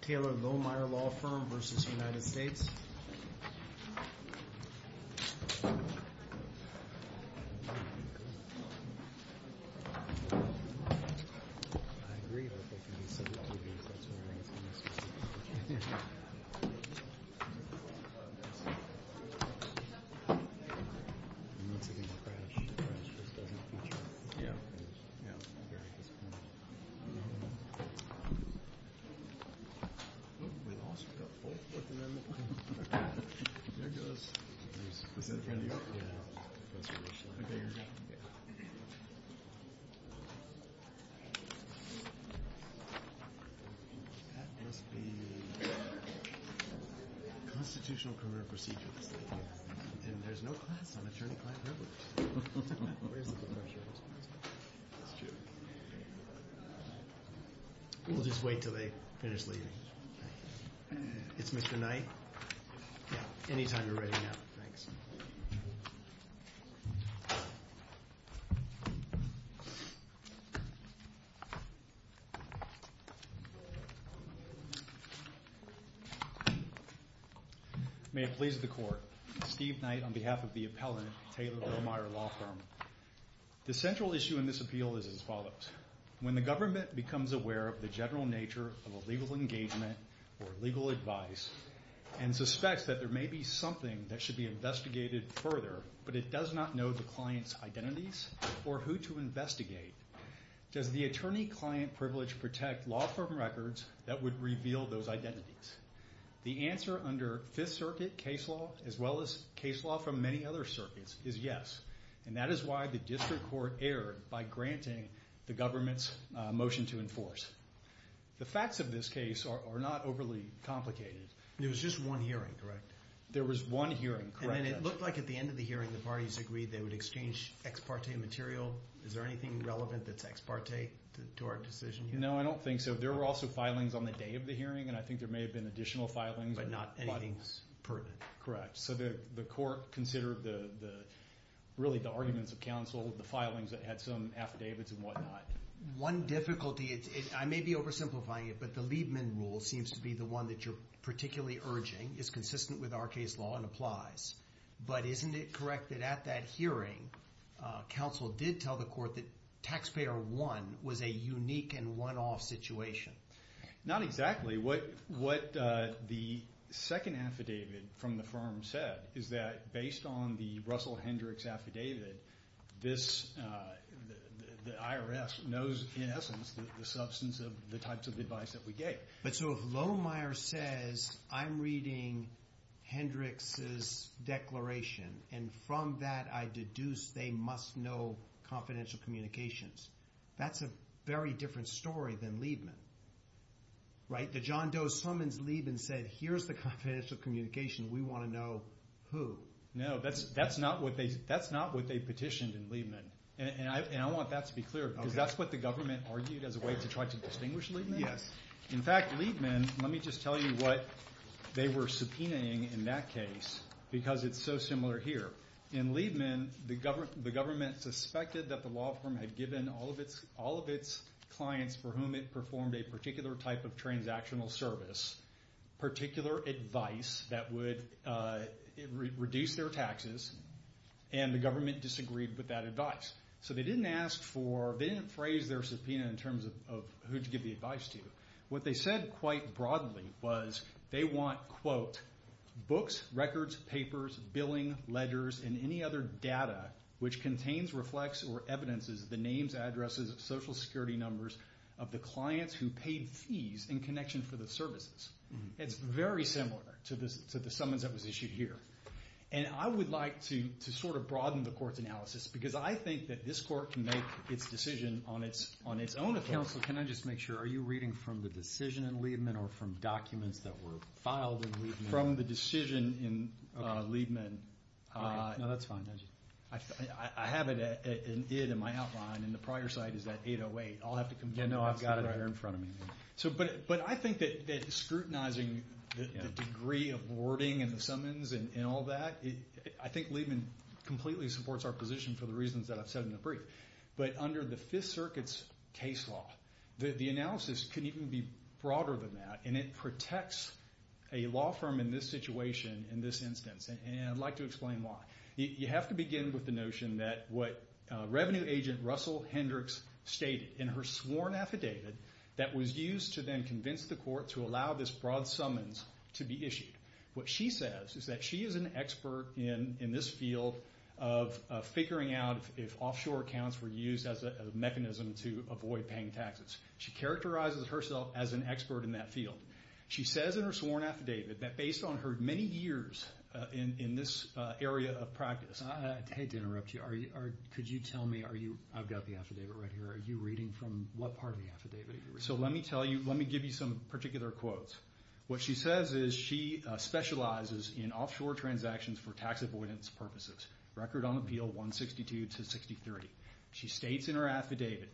Taylor Lohmeyer Law Firm v. United States Taylor Lohmeyer Law Firm v. United States Taylor Lohmeyer Law Firm v. United States May it please the Court, Steve Knight on behalf of the appellant, Taylor Lohmeyer Law Firm. The central issue in this appeal is as follows. When the government becomes aware of the general nature of a legal engagement or legal advice and suspects that there may be something that should be investigated further but it does not know the client's identities or who to investigate, does the attorney-client privilege protect law firm records that would reveal those identities? The answer under Fifth Circuit case law, as well as case law from many other circuits, is yes. And that is why the district court erred by granting the government's motion to enforce. The facts of this case are not overly complicated. There was just one hearing, correct? There was one hearing, correct. And then it looked like at the end of the hearing the parties agreed they would exchange ex parte material. Is there anything relevant that's ex parte to our decision here? No, I don't think so. There were also filings on the day of the hearing and I think there may have been additional filings. But not anything pertinent? Correct. So the court considered really the arguments of counsel, the filings that had some affidavits and whatnot. One difficulty, I may be oversimplifying it, but the Liebman rule seems to be the one that you're particularly urging, is consistent with our case law and applies. But isn't it correct that at that hearing, counsel did tell the court that taxpayer one was a unique and one-off situation? Not exactly. What the second affidavit from the firm said is that based on the Russell Hendricks affidavit, the IRS knows in essence the substance of the types of advice that we gave. But so if Lohmeyer says, I'm reading Hendricks' declaration and from that I deduce they must know confidential communications, that's a very different story than Liebman. Right? That John Doe summons Liebman and said, here's the confidential communication, we want to know who. No, that's not what they petitioned in Liebman. And I want that to be clear because that's what the government argued as a way to try to distinguish Liebman. Yes. In fact, Liebman, let me just tell you what they were subpoenaing in that case because it's so similar here. In Liebman, the government suspected that the law firm had given all of its clients for whom it performed a particular type of transactional service particular advice that would reduce their taxes, and the government disagreed with that advice. So they didn't ask for, they didn't phrase their subpoena in terms of who to give the advice to. What they said quite broadly was they want, quote, books, records, papers, billing, ledgers, and any other data which contains, reflects, or evidences the names, addresses, social security numbers of the clients who paid fees in connection for the services. It's very similar to the summons that was issued here. And I would like to sort of broaden the court's analysis because I think that this court can make its decision on its own. Counsel, can I just make sure, are you reading from the decision in Liebman or from documents that were filed in Liebman? From the decision in Liebman. No, that's fine. I have it in my outline, and the prior site is that 808. I'll have to come back to that. Yeah, no, I've got it right here in front of me. But I think that scrutinizing the degree of wording in the summons and all that, I think Liebman completely supports our position for the reasons that I've said in the brief. But under the Fifth Circuit's case law, the analysis can even be broader than that, and it protects a law firm in this situation, in this instance. And I'd like to explain why. You have to begin with the notion that what Revenue Agent Russell Hendricks stated in her sworn affidavit that was used to then convince the court to allow this broad summons to be issued. What she says is that she is an expert in this field of figuring out if offshore accounts were used as a mechanism to avoid paying taxes. She characterizes herself as an expert in that field. She says in her sworn affidavit that based on her many years in this area of practice. I hate to interrupt you. Could you tell me, I've got the affidavit right here, are you reading from what part of the affidavit are you reading from? So let me give you some particular quotes. What she says is she specializes in offshore transactions for tax avoidance purposes. Record on Appeal 162 to 6030. She states in her affidavit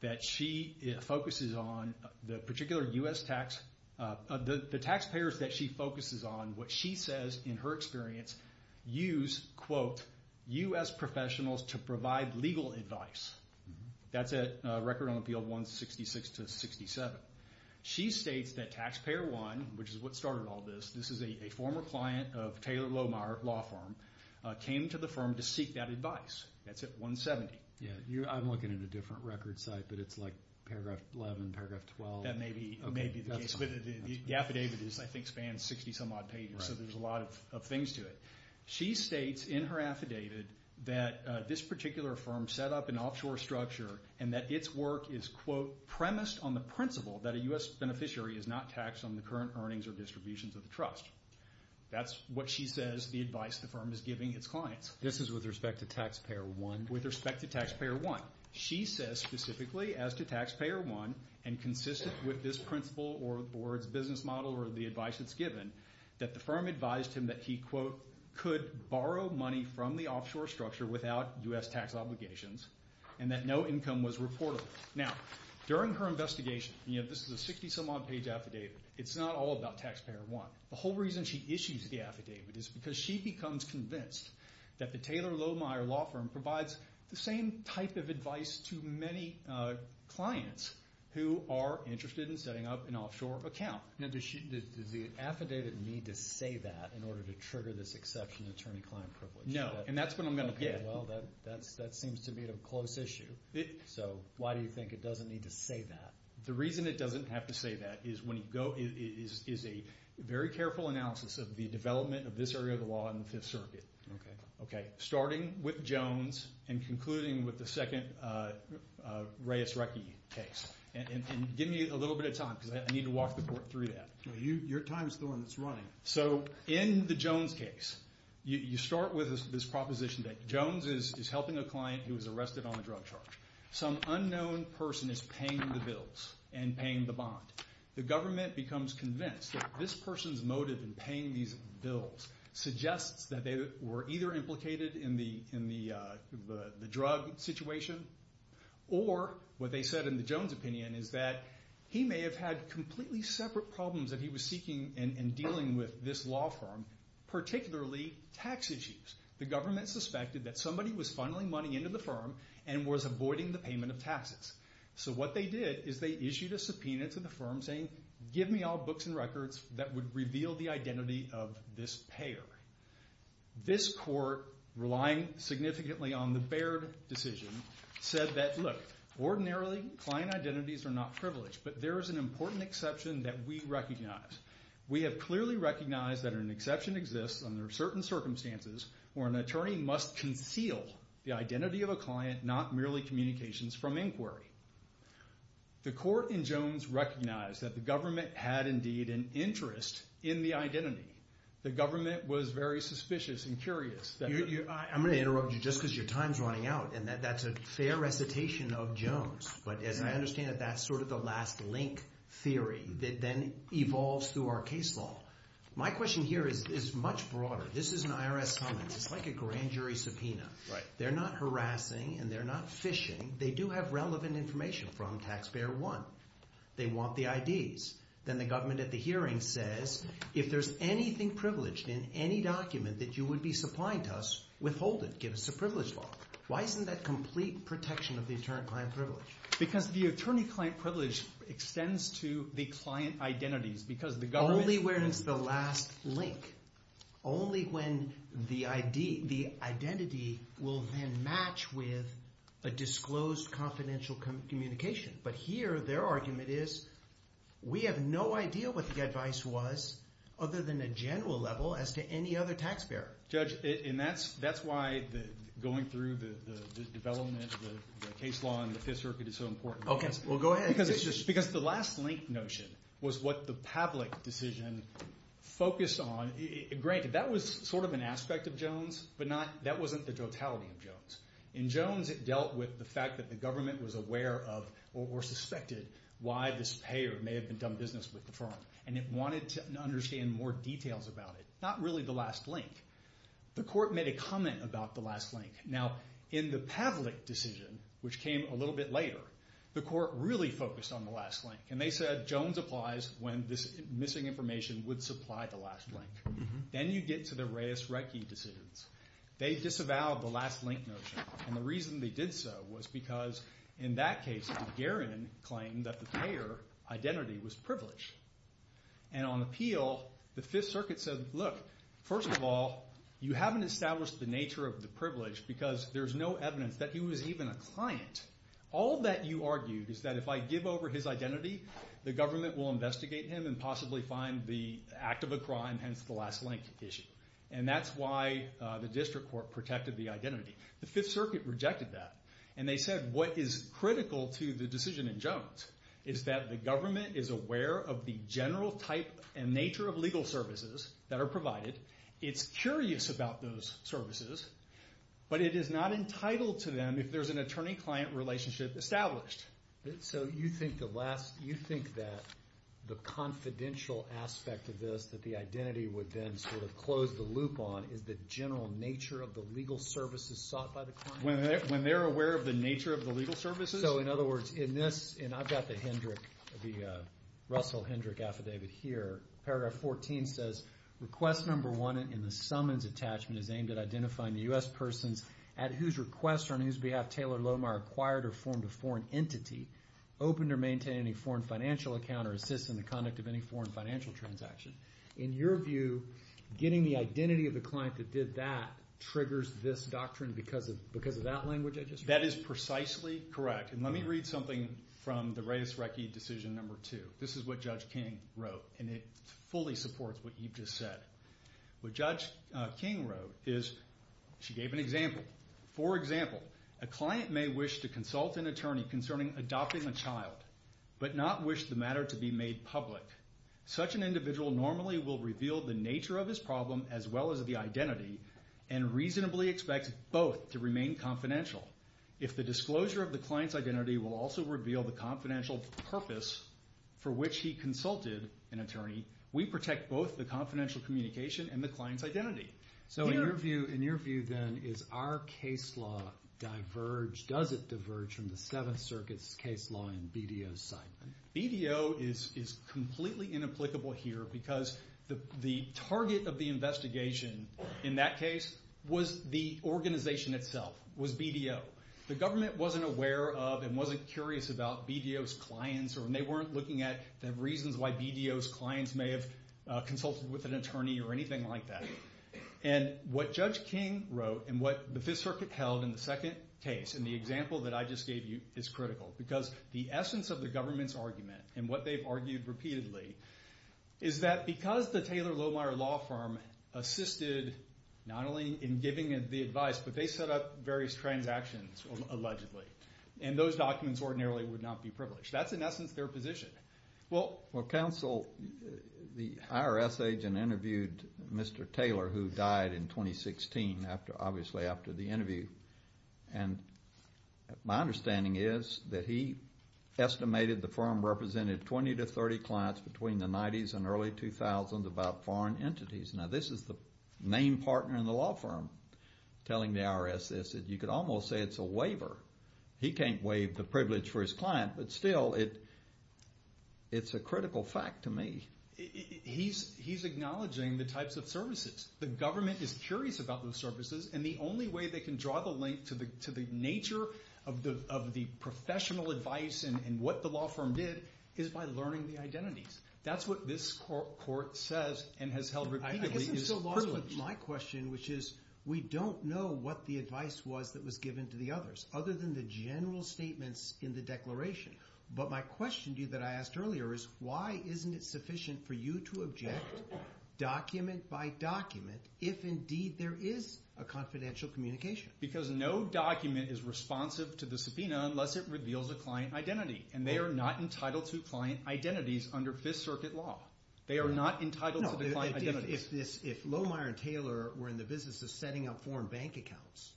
that she focuses on the particular U.S. tax. The taxpayers that she focuses on, what she says in her experience, use, quote, U.S. professionals to provide legal advice. That's at Record on Appeal 166 to 67. She states that Taxpayer 1, which is what started all this, this is a former client of Taylor Lohmeyer Law Firm, came to the firm to seek that advice. That's at 170. I'm looking at a different record site, but it's like paragraph 11, paragraph 12. That may be the case. The affidavit, I think, spans 60-some odd pages, so there's a lot of things to it. She states in her affidavit that this particular firm set up an offshore structure and that its work is, quote, premised on the principle that a U.S. beneficiary is not taxed on the current earnings or distributions of the trust. That's what she says the advice the firm is giving its clients. This is with respect to Taxpayer 1? With respect to Taxpayer 1. She says specifically as to Taxpayer 1, and consistent with this principle or its business model or the advice it's given, that the firm advised him that he, quote, could borrow money from the offshore structure without U.S. tax obligations and that no income was reportable. Now, during her investigation, and this is a 60-some odd page affidavit, it's not all about Taxpayer 1. The whole reason she issues the affidavit is because she becomes convinced that the Taylor Lohmeier law firm provides the same type of advice to many clients who are interested in setting up an offshore account. Now, does the affidavit need to say that in order to trigger this exception to attorney-client privilege? No, and that's what I'm going to get. Well, that seems to be a close issue. So why do you think it doesn't need to say that? The reason it doesn't have to say that is a very careful analysis of the development of this area of the law in the Fifth Circuit, starting with Jones and concluding with the second Reyes-Reckie case. And give me a little bit of time because I need to walk the court through that. Your time is the one that's running. So in the Jones case, you start with this proposition that Jones is helping a client who was arrested on a drug charge. Some unknown person is paying the bills and paying the bond. The government becomes convinced that this person's motive in paying these bills suggests that they were either implicated in the drug situation or, what they said in the Jones opinion, is that he may have had completely separate problems that he was seeking and dealing with this law firm, particularly tax issues. The government suspected that somebody was funneling money into the firm and was avoiding the payment of taxes. So what they did is they issued a subpoena to the firm saying, give me all books and records that would reveal the identity of this payer. This court, relying significantly on the Baird decision, said that, look, ordinarily client identities are not privileged, but there is an important exception that we recognize. We have clearly recognized that an exception exists under certain circumstances where an attorney must conceal the identity of a client, not merely communications from inquiry. The court in Jones recognized that the government had, indeed, an interest in the identity. The government was very suspicious and curious. I'm going to interrupt you just because your time is running out, and that's a fair recitation of Jones. But as I understand it, that's sort of the last link theory that then evolves through our case law. My question here is much broader. This is an IRS summons. It's like a grand jury subpoena. They're not harassing and they're not phishing. They do have relevant information from Taxpayer 1. They want the IDs. Then the government at the hearing says, if there's anything privileged in any document that you would be supplying to us, withhold it, give us a privilege law. Why isn't that complete protection of the attorney-client privilege? Because the attorney-client privilege extends to the client identities because the government— Only where it's the last link. Only when the identity will then match with a disclosed confidential communication. But here their argument is we have no idea what the advice was other than a general level as to any other taxpayer. Judge, that's why going through the development of the case law in the Fifth Circuit is so important. Because the last link notion was what the Pavlik decision focused on. Granted, that was sort of an aspect of Jones, but that wasn't the totality of Jones. In Jones it dealt with the fact that the government was aware of or suspected why this payer may have done business with the firm. And it wanted to understand more details about it. Not really the last link. The court made a comment about the last link. Now, in the Pavlik decision, which came a little bit later, the court really focused on the last link. And they said Jones applies when this missing information would supply the last link. Then you get to the Reyes-Reckie decisions. They disavowed the last link notion. And the reason they did so was because in that case, Gagarin claimed that the payer identity was privileged. And on appeal, the Fifth Circuit said, look, first of all, you haven't established the nature of the privilege because there's no evidence that he was even a client. All that you argued is that if I give over his identity, the government will investigate him and possibly find the act of a crime, hence the last link issue. And that's why the district court protected the identity. The Fifth Circuit rejected that. And they said what is critical to the decision in Jones is that the government is aware of the general type and nature of legal services that are provided. It's curious about those services. But it is not entitled to them if there's an attorney-client relationship established. So you think that the confidential aspect of this, that the identity would then sort of close the loop on, is the general nature of the legal services sought by the client? When they're aware of the nature of the legal services? So in other words, in this, and I've got the Hendrick, the Russell Hendrick affidavit here. Paragraph 14 says, request number one in the summons attachment is aimed at identifying the U.S. persons at whose request or on whose behalf Taylor Lohmeyer acquired or formed a foreign entity, open to maintain any foreign financial account or assist in the conduct of any foreign financial transaction. In your view, getting the identity of the client that did that triggers this doctrine because of that language I just read? That is precisely correct. And let me read something from the Reyes-Reckie decision number two. This is what Judge King wrote, and it fully supports what you've just said. What Judge King wrote is, she gave an example. For example, a client may wish to consult an attorney concerning adopting a child, but not wish the matter to be made public. Such an individual normally will reveal the nature of his problem as well as the identity, and reasonably expect both to remain confidential. If the disclosure of the client's identity will also reveal the confidential purpose for which he consulted an attorney, we protect both the confidential communication and the client's identity. So in your view, then, is our case law diverged? Does it diverge from the Seventh Circuit's case law and BDO's side? BDO is completely inapplicable here because the target of the investigation in that case was the organization itself, was BDO. The government wasn't aware of and wasn't curious about BDO's clients, and they weren't looking at the reasons why BDO's clients may have consulted with an attorney or anything like that. And what Judge King wrote and what the Fifth Circuit held in the second case in the example that I just gave you is critical because the essence of the government's argument and what they've argued repeatedly is that because the Taylor-Lohmeyer Law Firm assisted not only in giving the advice, but they set up various transactions, allegedly, and those documents ordinarily would not be privileged. That's, in essence, their position. Well, counsel, the IRS agent interviewed Mr. Taylor, who died in 2016, obviously after the interview, and my understanding is that he estimated the firm represented 20 to 30 clients between the 90s and early 2000s about foreign entities. Now, this is the main partner in the law firm telling the IRS this. You could almost say it's a waiver. He can't waive the privilege for his client, but still, it's a critical fact to me. He's acknowledging the types of services. The government is curious about those services, and the only way they can draw the link to the nature of the professional advice and what the law firm did is by learning the identities. That's what this court says and has held repeatedly. I guess I'm still lost with my question, which is we don't know what the advice was that was given to the others, other than the general statements in the declaration. But my question to you that I asked earlier is, why isn't it sufficient for you to object document by document if, indeed, there is a confidential communication? Because no document is responsive to the subpoena unless it reveals a client identity, and they are not entitled to client identities under Fifth Circuit law. They are not entitled to the client identities. If Lohmeyer and Taylor were in the business of setting up foreign bank accounts,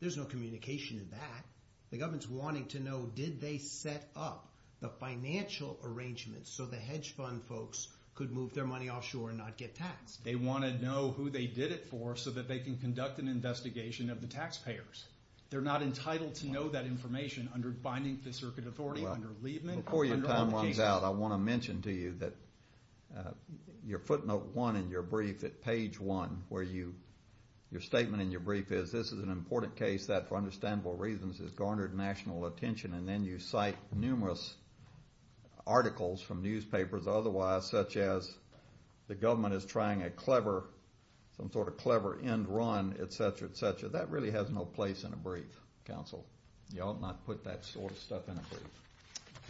there's no communication in that. The government's wanting to know, did they set up the financial arrangements so the hedge fund folks could move their money offshore and not get taxed? They want to know who they did it for so that they can conduct an investigation of the taxpayers. They're not entitled to know that information under binding Fifth Circuit authority, under Liebman. Before your time runs out, I want to mention to you that your footnote one in your brief, at page one, where your statement in your brief is, this is an important case that, for understandable reasons, has garnered national attention. And then you cite numerous articles from newspapers otherwise, such as the government is trying a clever, some sort of clever end run, et cetera, et cetera. But that really has no place in a brief, counsel. You ought not put that sort of stuff in a brief.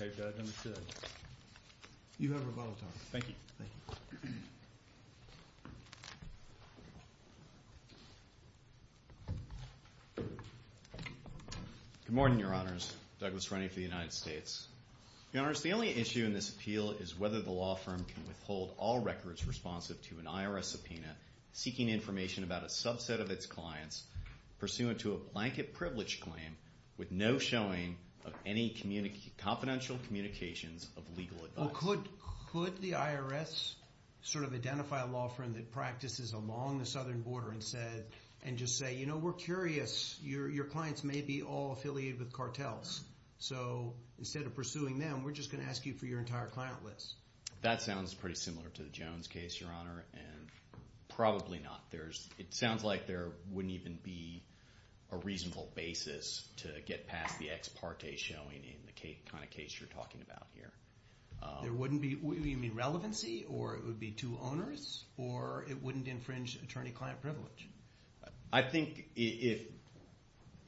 Okay, Judge, understood. You have a volatile. Thank you. Thank you. Good morning, Your Honors. Douglas Runney for the United States. Your Honors, the only issue in this appeal is whether the law firm can withhold all records responsive to an IRS subpoena seeking information about a subset of its clients pursuant to a blanket privilege claim with no showing of any confidential communications of legal advice. Could the IRS sort of identify a law firm that practices along the southern border and just say, you know, we're curious. Your clients may be all affiliated with cartels. So instead of pursuing them, we're just going to ask you for your entire client list. That sounds pretty similar to the Jones case, Your Honor, and probably not. It sounds like there wouldn't even be a reasonable basis to get past the ex parte showing in the kind of case you're talking about here. You mean relevancy, or it would be two owners, or it wouldn't infringe attorney-client privilege? I think if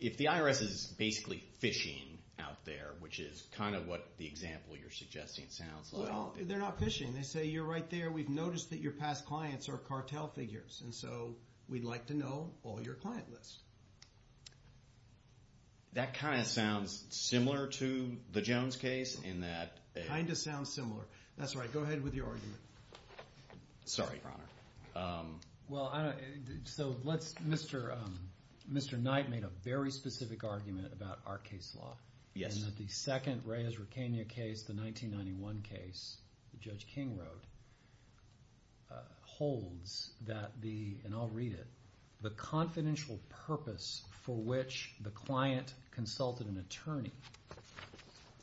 the IRS is basically fishing out there, which is kind of what the example you're suggesting sounds like. Well, they're not fishing. They say, you're right there. We've noticed that your past clients are cartel figures. And so we'd like to know all your client lists. That kind of sounds similar to the Jones case in that... Kind of sounds similar. That's right. Go ahead with your argument. Sorry, Your Honor. Well, I don't know. So let's... Mr. Knight made a very specific argument about our case law. Yes. And that the second Reyes-Racania case, the 1991 case that Judge King wrote, holds that the, and I'll read it, the confidential purpose for which the client consulted an attorney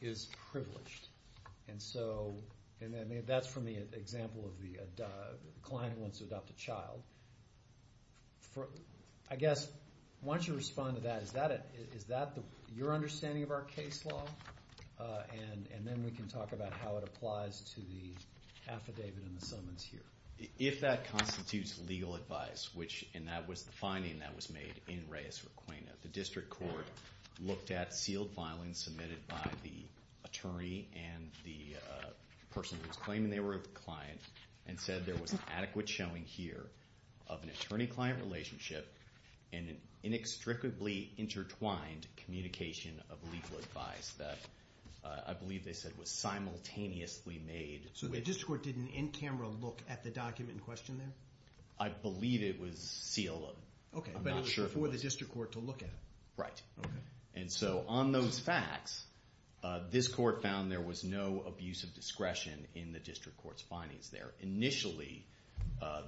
is privileged. And so that's from the example of the client who wants to adopt a child. I guess, why don't you respond to that. Is that your understanding of our case law? And then we can talk about how it applies to the affidavit and the summons here. If that constitutes legal advice, which, and that was the finding that was made in Reyes-Racania, the district court looked at sealed filings submitted by the attorney and the person who was claiming they were the client and said there was adequate showing here of an attorney-client relationship and an inextricably intertwined communication of legal advice that I believe they said was simultaneously made. So the district court didn't in camera look at the document in question there? I believe it was sealed. Okay, but it was before the district court to look at it. Right. Okay. And so on those facts, this court found there was no abuse of discretion in the district court's findings there. Initially,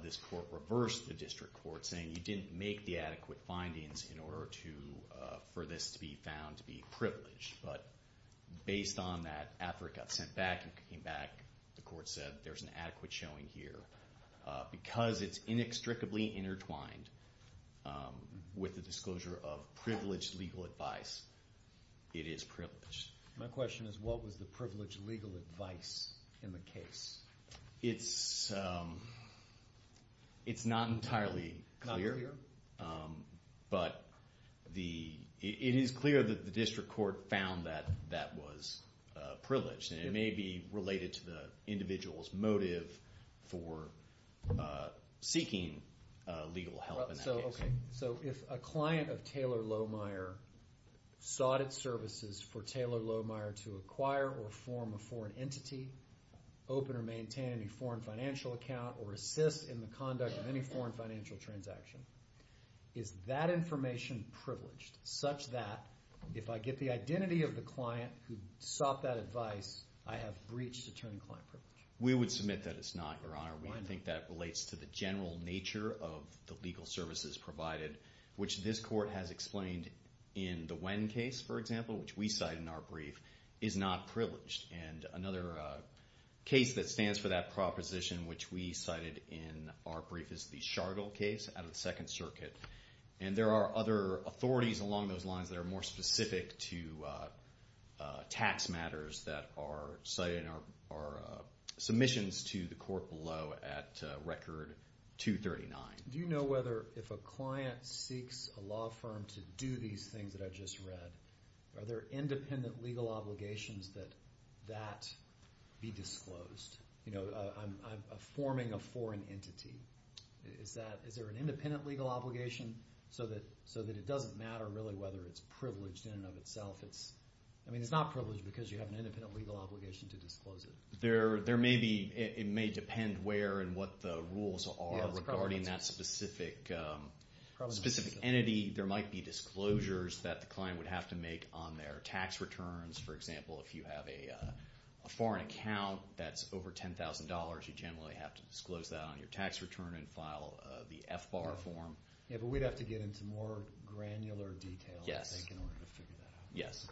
this court reversed the district court, saying you didn't make the adequate findings in order for this to be found to be privileged. But based on that, after it got sent back and came back, the court said there's an adequate showing here. Because it's inextricably intertwined with the disclosure of privileged legal advice, it is privileged. My question is what was the privileged legal advice in the case? It's not entirely clear. Not clear. But it is clear that the district court found that that was privileged, and it may be related to the individual's motive for seeking legal help in that case. Okay. So if a client of Taylor Lohmeyer sought its services for Taylor Lohmeyer to acquire or form a foreign entity, open or maintain a foreign financial account, or assist in the conduct of any foreign financial transaction, is that information privileged such that if I get the identity of the client who sought that advice, I have breached attorney-client privilege? We would submit that it's not, Your Honor. I think that relates to the general nature of the legal services provided, which this court has explained in the Wen case, for example, which we cite in our brief, is not privileged. And another case that stands for that proposition, which we cited in our brief, is the Chargill case out of the Second Circuit. And there are other authorities along those lines that are more specific to tax matters that are cited in our submissions to the court below at Record 239. Do you know whether if a client seeks a law firm to do these things that I've just read, are there independent legal obligations that that be disclosed? You know, forming a foreign entity, is there an independent legal obligation so that it doesn't matter really whether it's privileged in and of itself? I mean, it's not privileged because you have an independent legal obligation to disclose it. There may be. It may depend where and what the rules are regarding that specific entity. There might be disclosures that the client would have to make on their tax returns. For example, if you have a foreign account that's over $10,000, you generally have to disclose that on your tax return and file the FBAR form. Yeah, but we'd have to get into more granular detail, I think, in order to figure that out. Yes.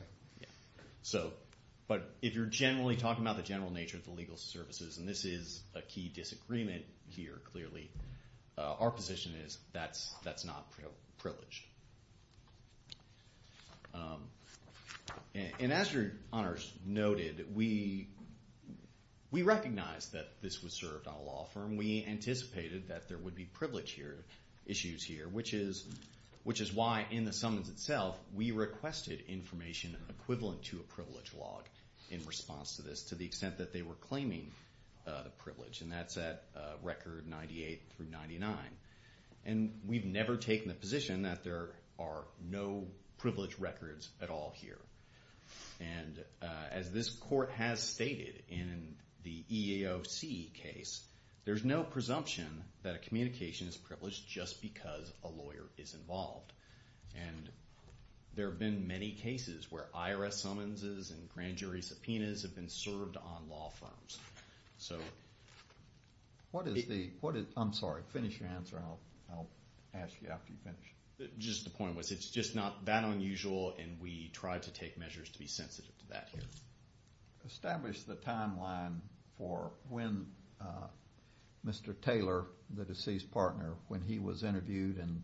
But if you're generally talking about the general nature of the legal services, and this is a key disagreement here clearly, our position is that's not privileged. And as your honors noted, we recognize that this was served on a law firm. We anticipated that there would be privilege issues here, which is why in the summons itself we requested information equivalent to a privilege log in response to this to the extent that they were claiming the privilege, and that's at record 98 through 99. And we've never taken the position that there are no privilege records at all here. And as this court has stated in the EEOC case, there's no presumption that a communication is privileged just because a lawyer is involved. And there have been many cases where IRS summonses and grand jury subpoenas have been served on law firms. So what is the—I'm sorry, finish your answer, and I'll ask you after you finish. Just the point was it's just not that unusual, and we tried to take measures to be sensitive to that here. Establish the timeline for when Mr. Taylor, the deceased partner, when he was interviewed and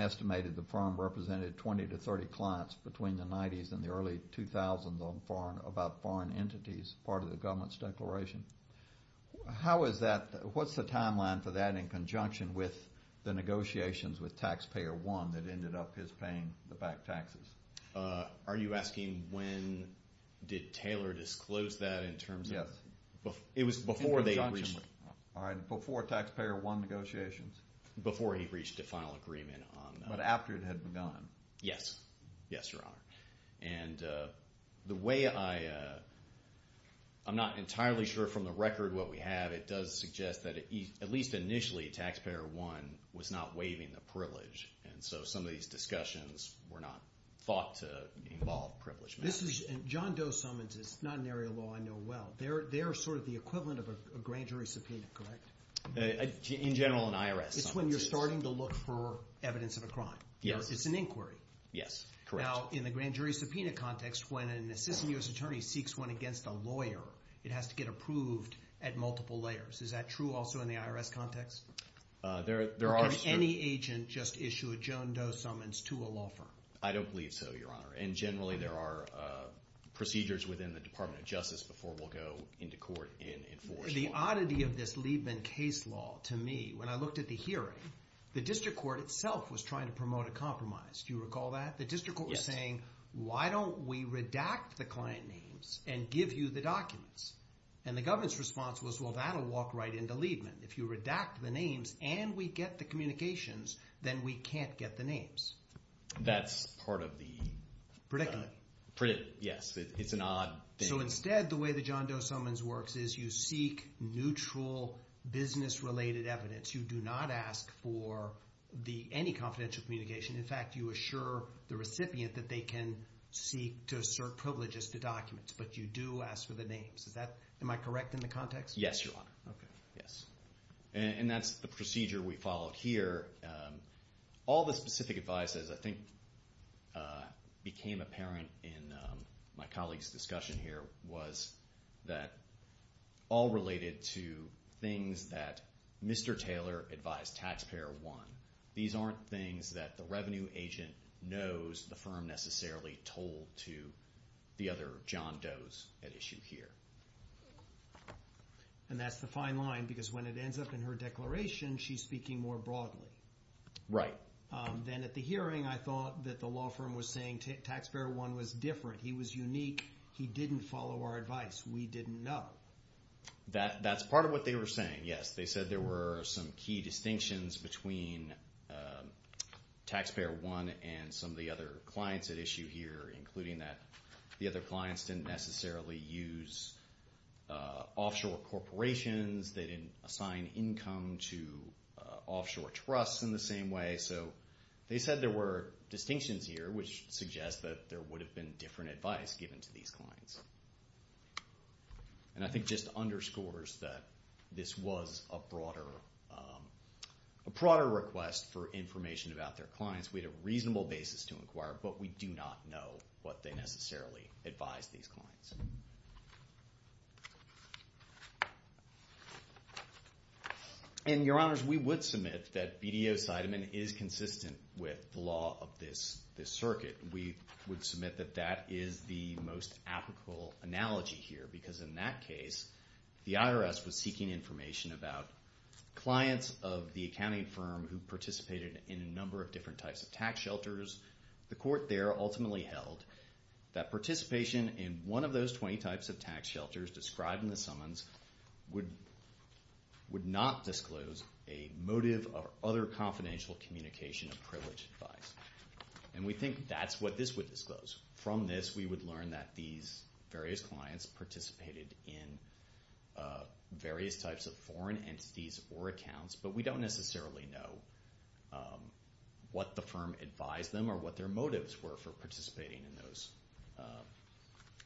estimated the firm represented 20 to 30 clients between the 90s and the early 2000s about foreign entities, part of the government's declaration. How is that—what's the timeline for that in conjunction with the negotiations with Taxpayer One that ended up his paying the back taxes? Are you asking when did Taylor disclose that in terms of— Yes. It was before they reached— All right, before Taxpayer One negotiations. Before he reached a final agreement on that. But after it had begun. Yes. Yes, Your Honor. And the way I—I'm not entirely sure from the record what we have. It does suggest that at least initially Taxpayer One was not waiving the privilege. And so some of these discussions were not thought to involve privilege matters. This is—John Doe summons is not an area of law I know well. They're sort of the equivalent of a grand jury subpoena, correct? In general, an IRS summons is. It's when you're starting to look for evidence of a crime. Yes. It's an inquiry. Yes, correct. Now, in the grand jury subpoena context, when an assistant U.S. attorney seeks one against a lawyer, it has to get approved at multiple layers. Is that true also in the IRS context? There are— Does any agent just issue a John Doe summons to a law firm? I don't believe so, Your Honor. And generally there are procedures within the Department of Justice before we'll go into court and enforce law. The oddity of this Liebman case law to me, when I looked at the hearing, the district court itself was trying to promote a compromise. Do you recall that? Yes. The district court was saying, why don't we redact the client names and give you the documents? And the government's response was, well, that'll walk right into Liebman. If you redact the names and we get the communications, then we can't get the names. That's part of the— Predicament. Predicament, yes. It's an odd thing. So instead, the way the John Doe summons works is you seek neutral business-related evidence. You do not ask for any confidential communication. In fact, you assure the recipient that they can seek to assert privileges to documents. But you do ask for the names. Is that—am I correct in the context? Yes, Your Honor. Okay. Yes. And that's the procedure we followed here. All the specific advice, as I think became apparent in my colleague's discussion here, was that all related to things that Mr. Taylor advised taxpayer one. These aren't things that the revenue agent knows the firm necessarily told to the other John Does at issue here. And that's the fine line because when it ends up in her declaration, she's speaking more broadly. Right. Then at the hearing, I thought that the law firm was saying taxpayer one was different. He was unique. He didn't follow our advice. We didn't know. That's part of what they were saying, yes. They said there were some key distinctions between taxpayer one and some of the other clients at issue here, including that the other clients didn't necessarily use offshore corporations. They didn't assign income to offshore trusts in the same way. So they said there were distinctions here, which suggests that there would have been different advice given to these clients. And I think just underscores that this was a broader request for information about their clients. We had a reasonable basis to inquire, but we do not know what they necessarily advised these clients. And, Your Honors, we would submit that BDO-Sideman is consistent with the law of this circuit. We would submit that that is the most applicable analogy here because in that case, the IRS was seeking information about clients of the accounting firm who participated in a number of different types of tax shelters. The court there ultimately held that participation in one of those 20 types of tax shelters described in the summons would not disclose a motive or other confidential communication of privileged advice. And we think that's what this would disclose. From this, we would learn that these various clients participated in various types of foreign entities or accounts, but we don't necessarily know what the firm advised them or what their motives were for participating in those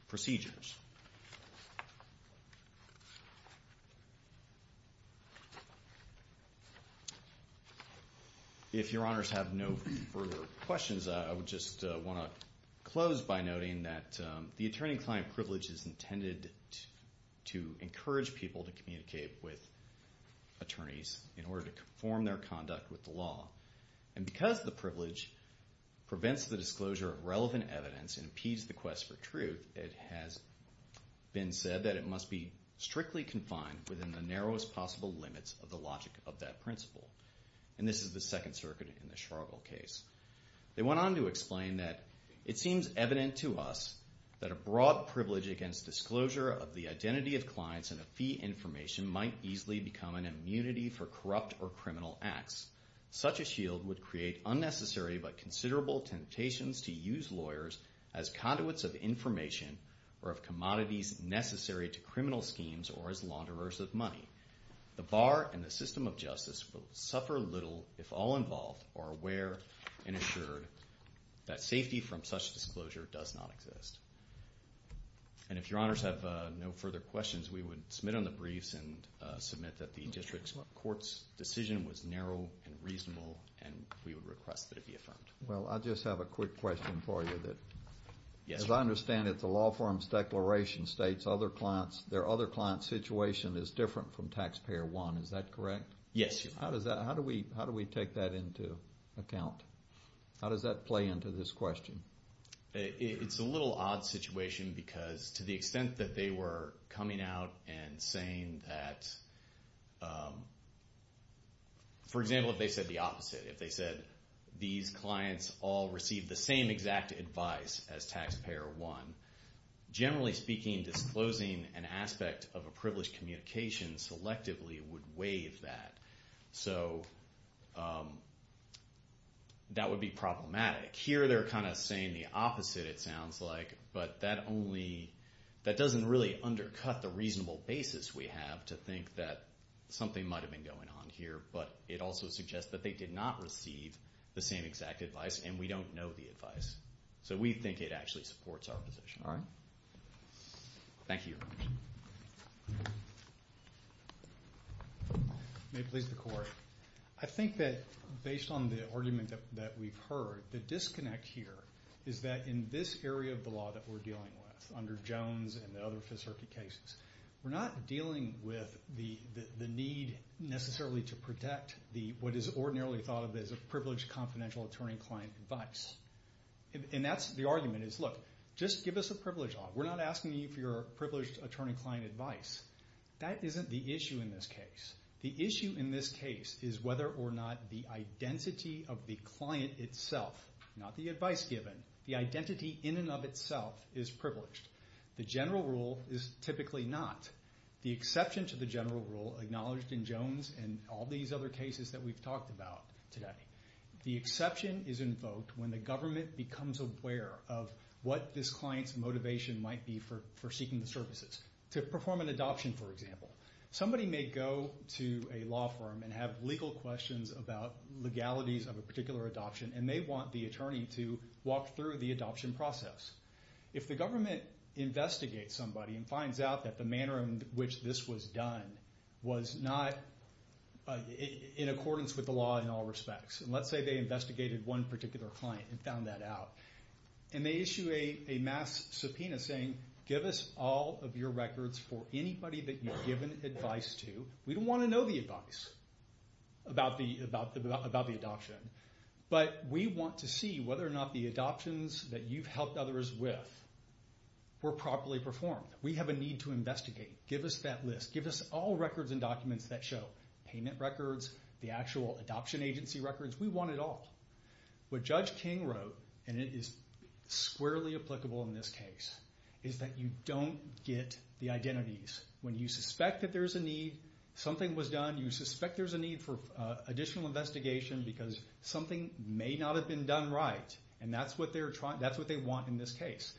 procedures. If Your Honors have no further questions, I would just want to close by noting that the attorney-client privilege is intended to encourage people to communicate with attorneys in order to conform their conduct with the law. And because the privilege prevents the disclosure of relevant evidence and impedes the quest for truth, it has been said that it must be strictly confined within the narrowest possible limits of the logic of that principle. And this is the Second Circuit in the Schragel case. They went on to explain that it seems evident to us that a broad privilege against disclosure of the identity of clients and a fee information might easily become an immunity for corrupt or criminal acts. Such a shield would create unnecessary but considerable temptations to use lawyers as conduits of information or of commodities necessary to criminal schemes or as launderers of money. The bar and the system of justice will suffer little if all involved are aware and assured that safety from such disclosure does not exist. And if Your Honors have no further questions, we would submit on the briefs and submit that the District Court's decision was narrow and reasonable, and we would request that it be affirmed. Well, I just have a quick question for you. As I understand it, the law firm's declaration states their other client situation is different from Taxpayer 1. Is that correct? Yes. How do we take that into account? How does that play into this question? It's a little odd situation because to the extent that they were coming out and saying that, for example, if they said the opposite, if they said these clients all received the same exact advice as Taxpayer 1, generally speaking, disclosing an aspect of a privileged communication selectively would waive that. So that would be problematic. Here they're kind of saying the opposite, it sounds like, but that doesn't really undercut the reasonable basis we have to think that something might have been going on here, but it also suggests that they did not receive the same exact advice and we don't know the advice. So we think it actually supports our position. All right. May it please the Court. I think that based on the argument that we've heard, the disconnect here is that in this area of the law that we're dealing with, under Jones and the other Fifth Circuit cases, we're not dealing with the need necessarily to protect what is ordinarily thought of as a privileged confidential attorney-client advice. And that's the argument is, look, just give us a privilege law. We're not asking you for your privileged attorney-client advice. That isn't the issue in this case. The issue in this case is whether or not the identity of the client itself, not the advice given, the identity in and of itself is privileged. The general rule is typically not. The exception to the general rule acknowledged in Jones and all these other cases that we've talked about today, the exception is invoked when the government becomes aware of what this client's motivation might be for seeking the services. To perform an adoption, for example. Somebody may go to a law firm and have legal questions about legalities of a particular adoption, and they want the attorney to walk through the adoption process. If the government investigates somebody and finds out that the manner in which this was done was not in accordance with the law in all respects, and let's say they investigated one particular client and found that out, and they issue a mass subpoena saying, give us all of your records for anybody that you've given advice to. We don't want to know the advice about the adoption, but we want to see whether or not the adoptions that you've helped others with were properly performed. We have a need to investigate. Give us that list. Give us all records and documents that show, payment records, the actual adoption agency records. We want it all. What Judge King wrote, and it is squarely applicable in this case, is that you don't get the identities. When you suspect that there's a need, something was done, you suspect there's a need for additional investigation because something may not have been done right, and that's what they want in this case.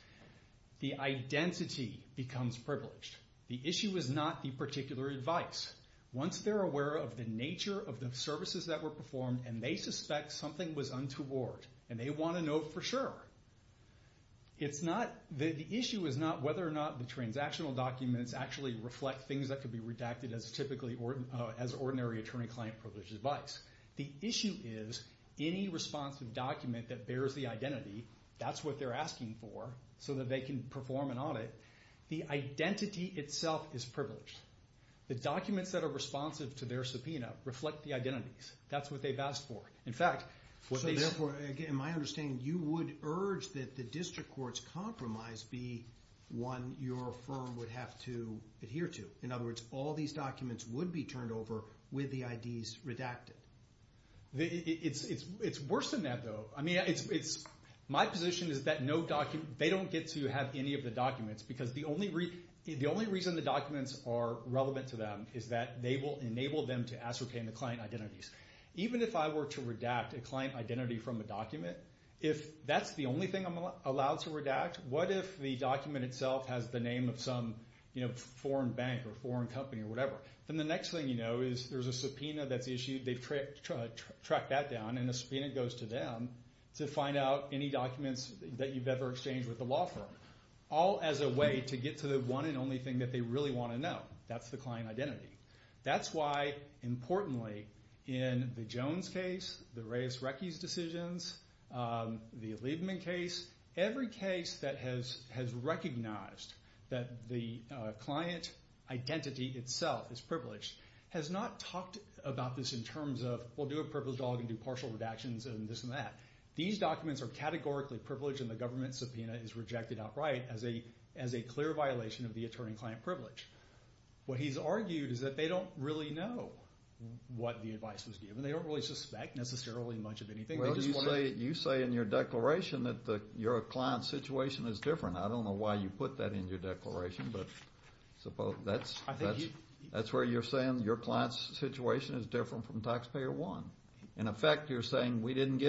The identity becomes privileged. The issue is not the particular advice. Once they're aware of the nature of the services that were performed and they suspect something was untoward and they want to know for sure, the issue is not whether or not the transactional documents actually reflect things that could be redacted as ordinary attorney-client privileged advice. The issue is any responsive document that bears the identity, that's what they're asking for so that they can perform an audit. The identity itself is privileged. The documents that are responsive to their subpoena reflect the identities. That's what they've asked for. So therefore, in my understanding, you would urge that the district court's compromise be one your firm would have to adhere to. In other words, all these documents would be turned over with the IDs redacted. It's worse than that, though. My position is that they don't get to have any of the documents because the only reason the documents are relevant to them is that they will enable them to ascertain the client identities. Even if I were to redact a client identity from a document, if that's the only thing I'm allowed to redact, what if the document itself has the name of some foreign bank or foreign company or whatever? Then the next thing you know is there's a subpoena that's issued. They've tracked that down, and a subpoena goes to them to find out any documents that you've ever exchanged with the law firm. All as a way to get to the one and only thing that they really want to know. That's the client identity. That's why, importantly, in the Jones case, the Reyes-Reckes decisions, the Liebman case, every case that has recognized that the client identity itself is privileged has not talked about this in terms of, we'll do a privileged dog and do partial redactions and this and that. These documents are categorically privileged, and the government subpoena is rejected outright as a clear violation of the attorney-client privilege. What he's argued is that they don't really know what the advice was given. They don't really suspect necessarily much of anything. Well, you say in your declaration that your client's situation is different. I don't know why you put that in your declaration, but that's where you're saying your client's situation is different from Taxpayer 1. In effect, you're saying we didn't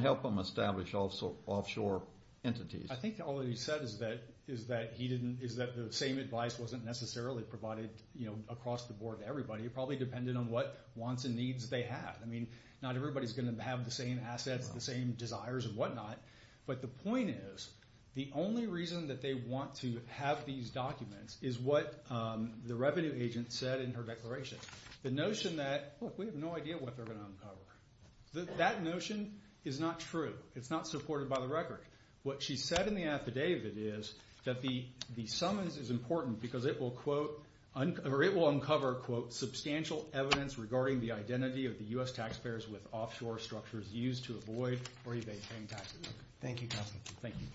help them establish offshore entities. I think all he said is that the same advice wasn't necessarily provided across the board to everybody. It probably depended on what wants and needs they had. I mean, not everybody's going to have the same assets, the same desires and whatnot. But the point is, the only reason that they want to have these documents is what the revenue agent said in her declaration. The notion that, look, we have no idea what they're going to uncover. That notion is not true. It's not supported by the record. What she said in the affidavit is that the summons is important because it will uncover, quote, substantial evidence regarding the identity of the U.S. taxpayers with offshore structures used to avoid or evade paying taxes. Thank you, Counselor. Thank you.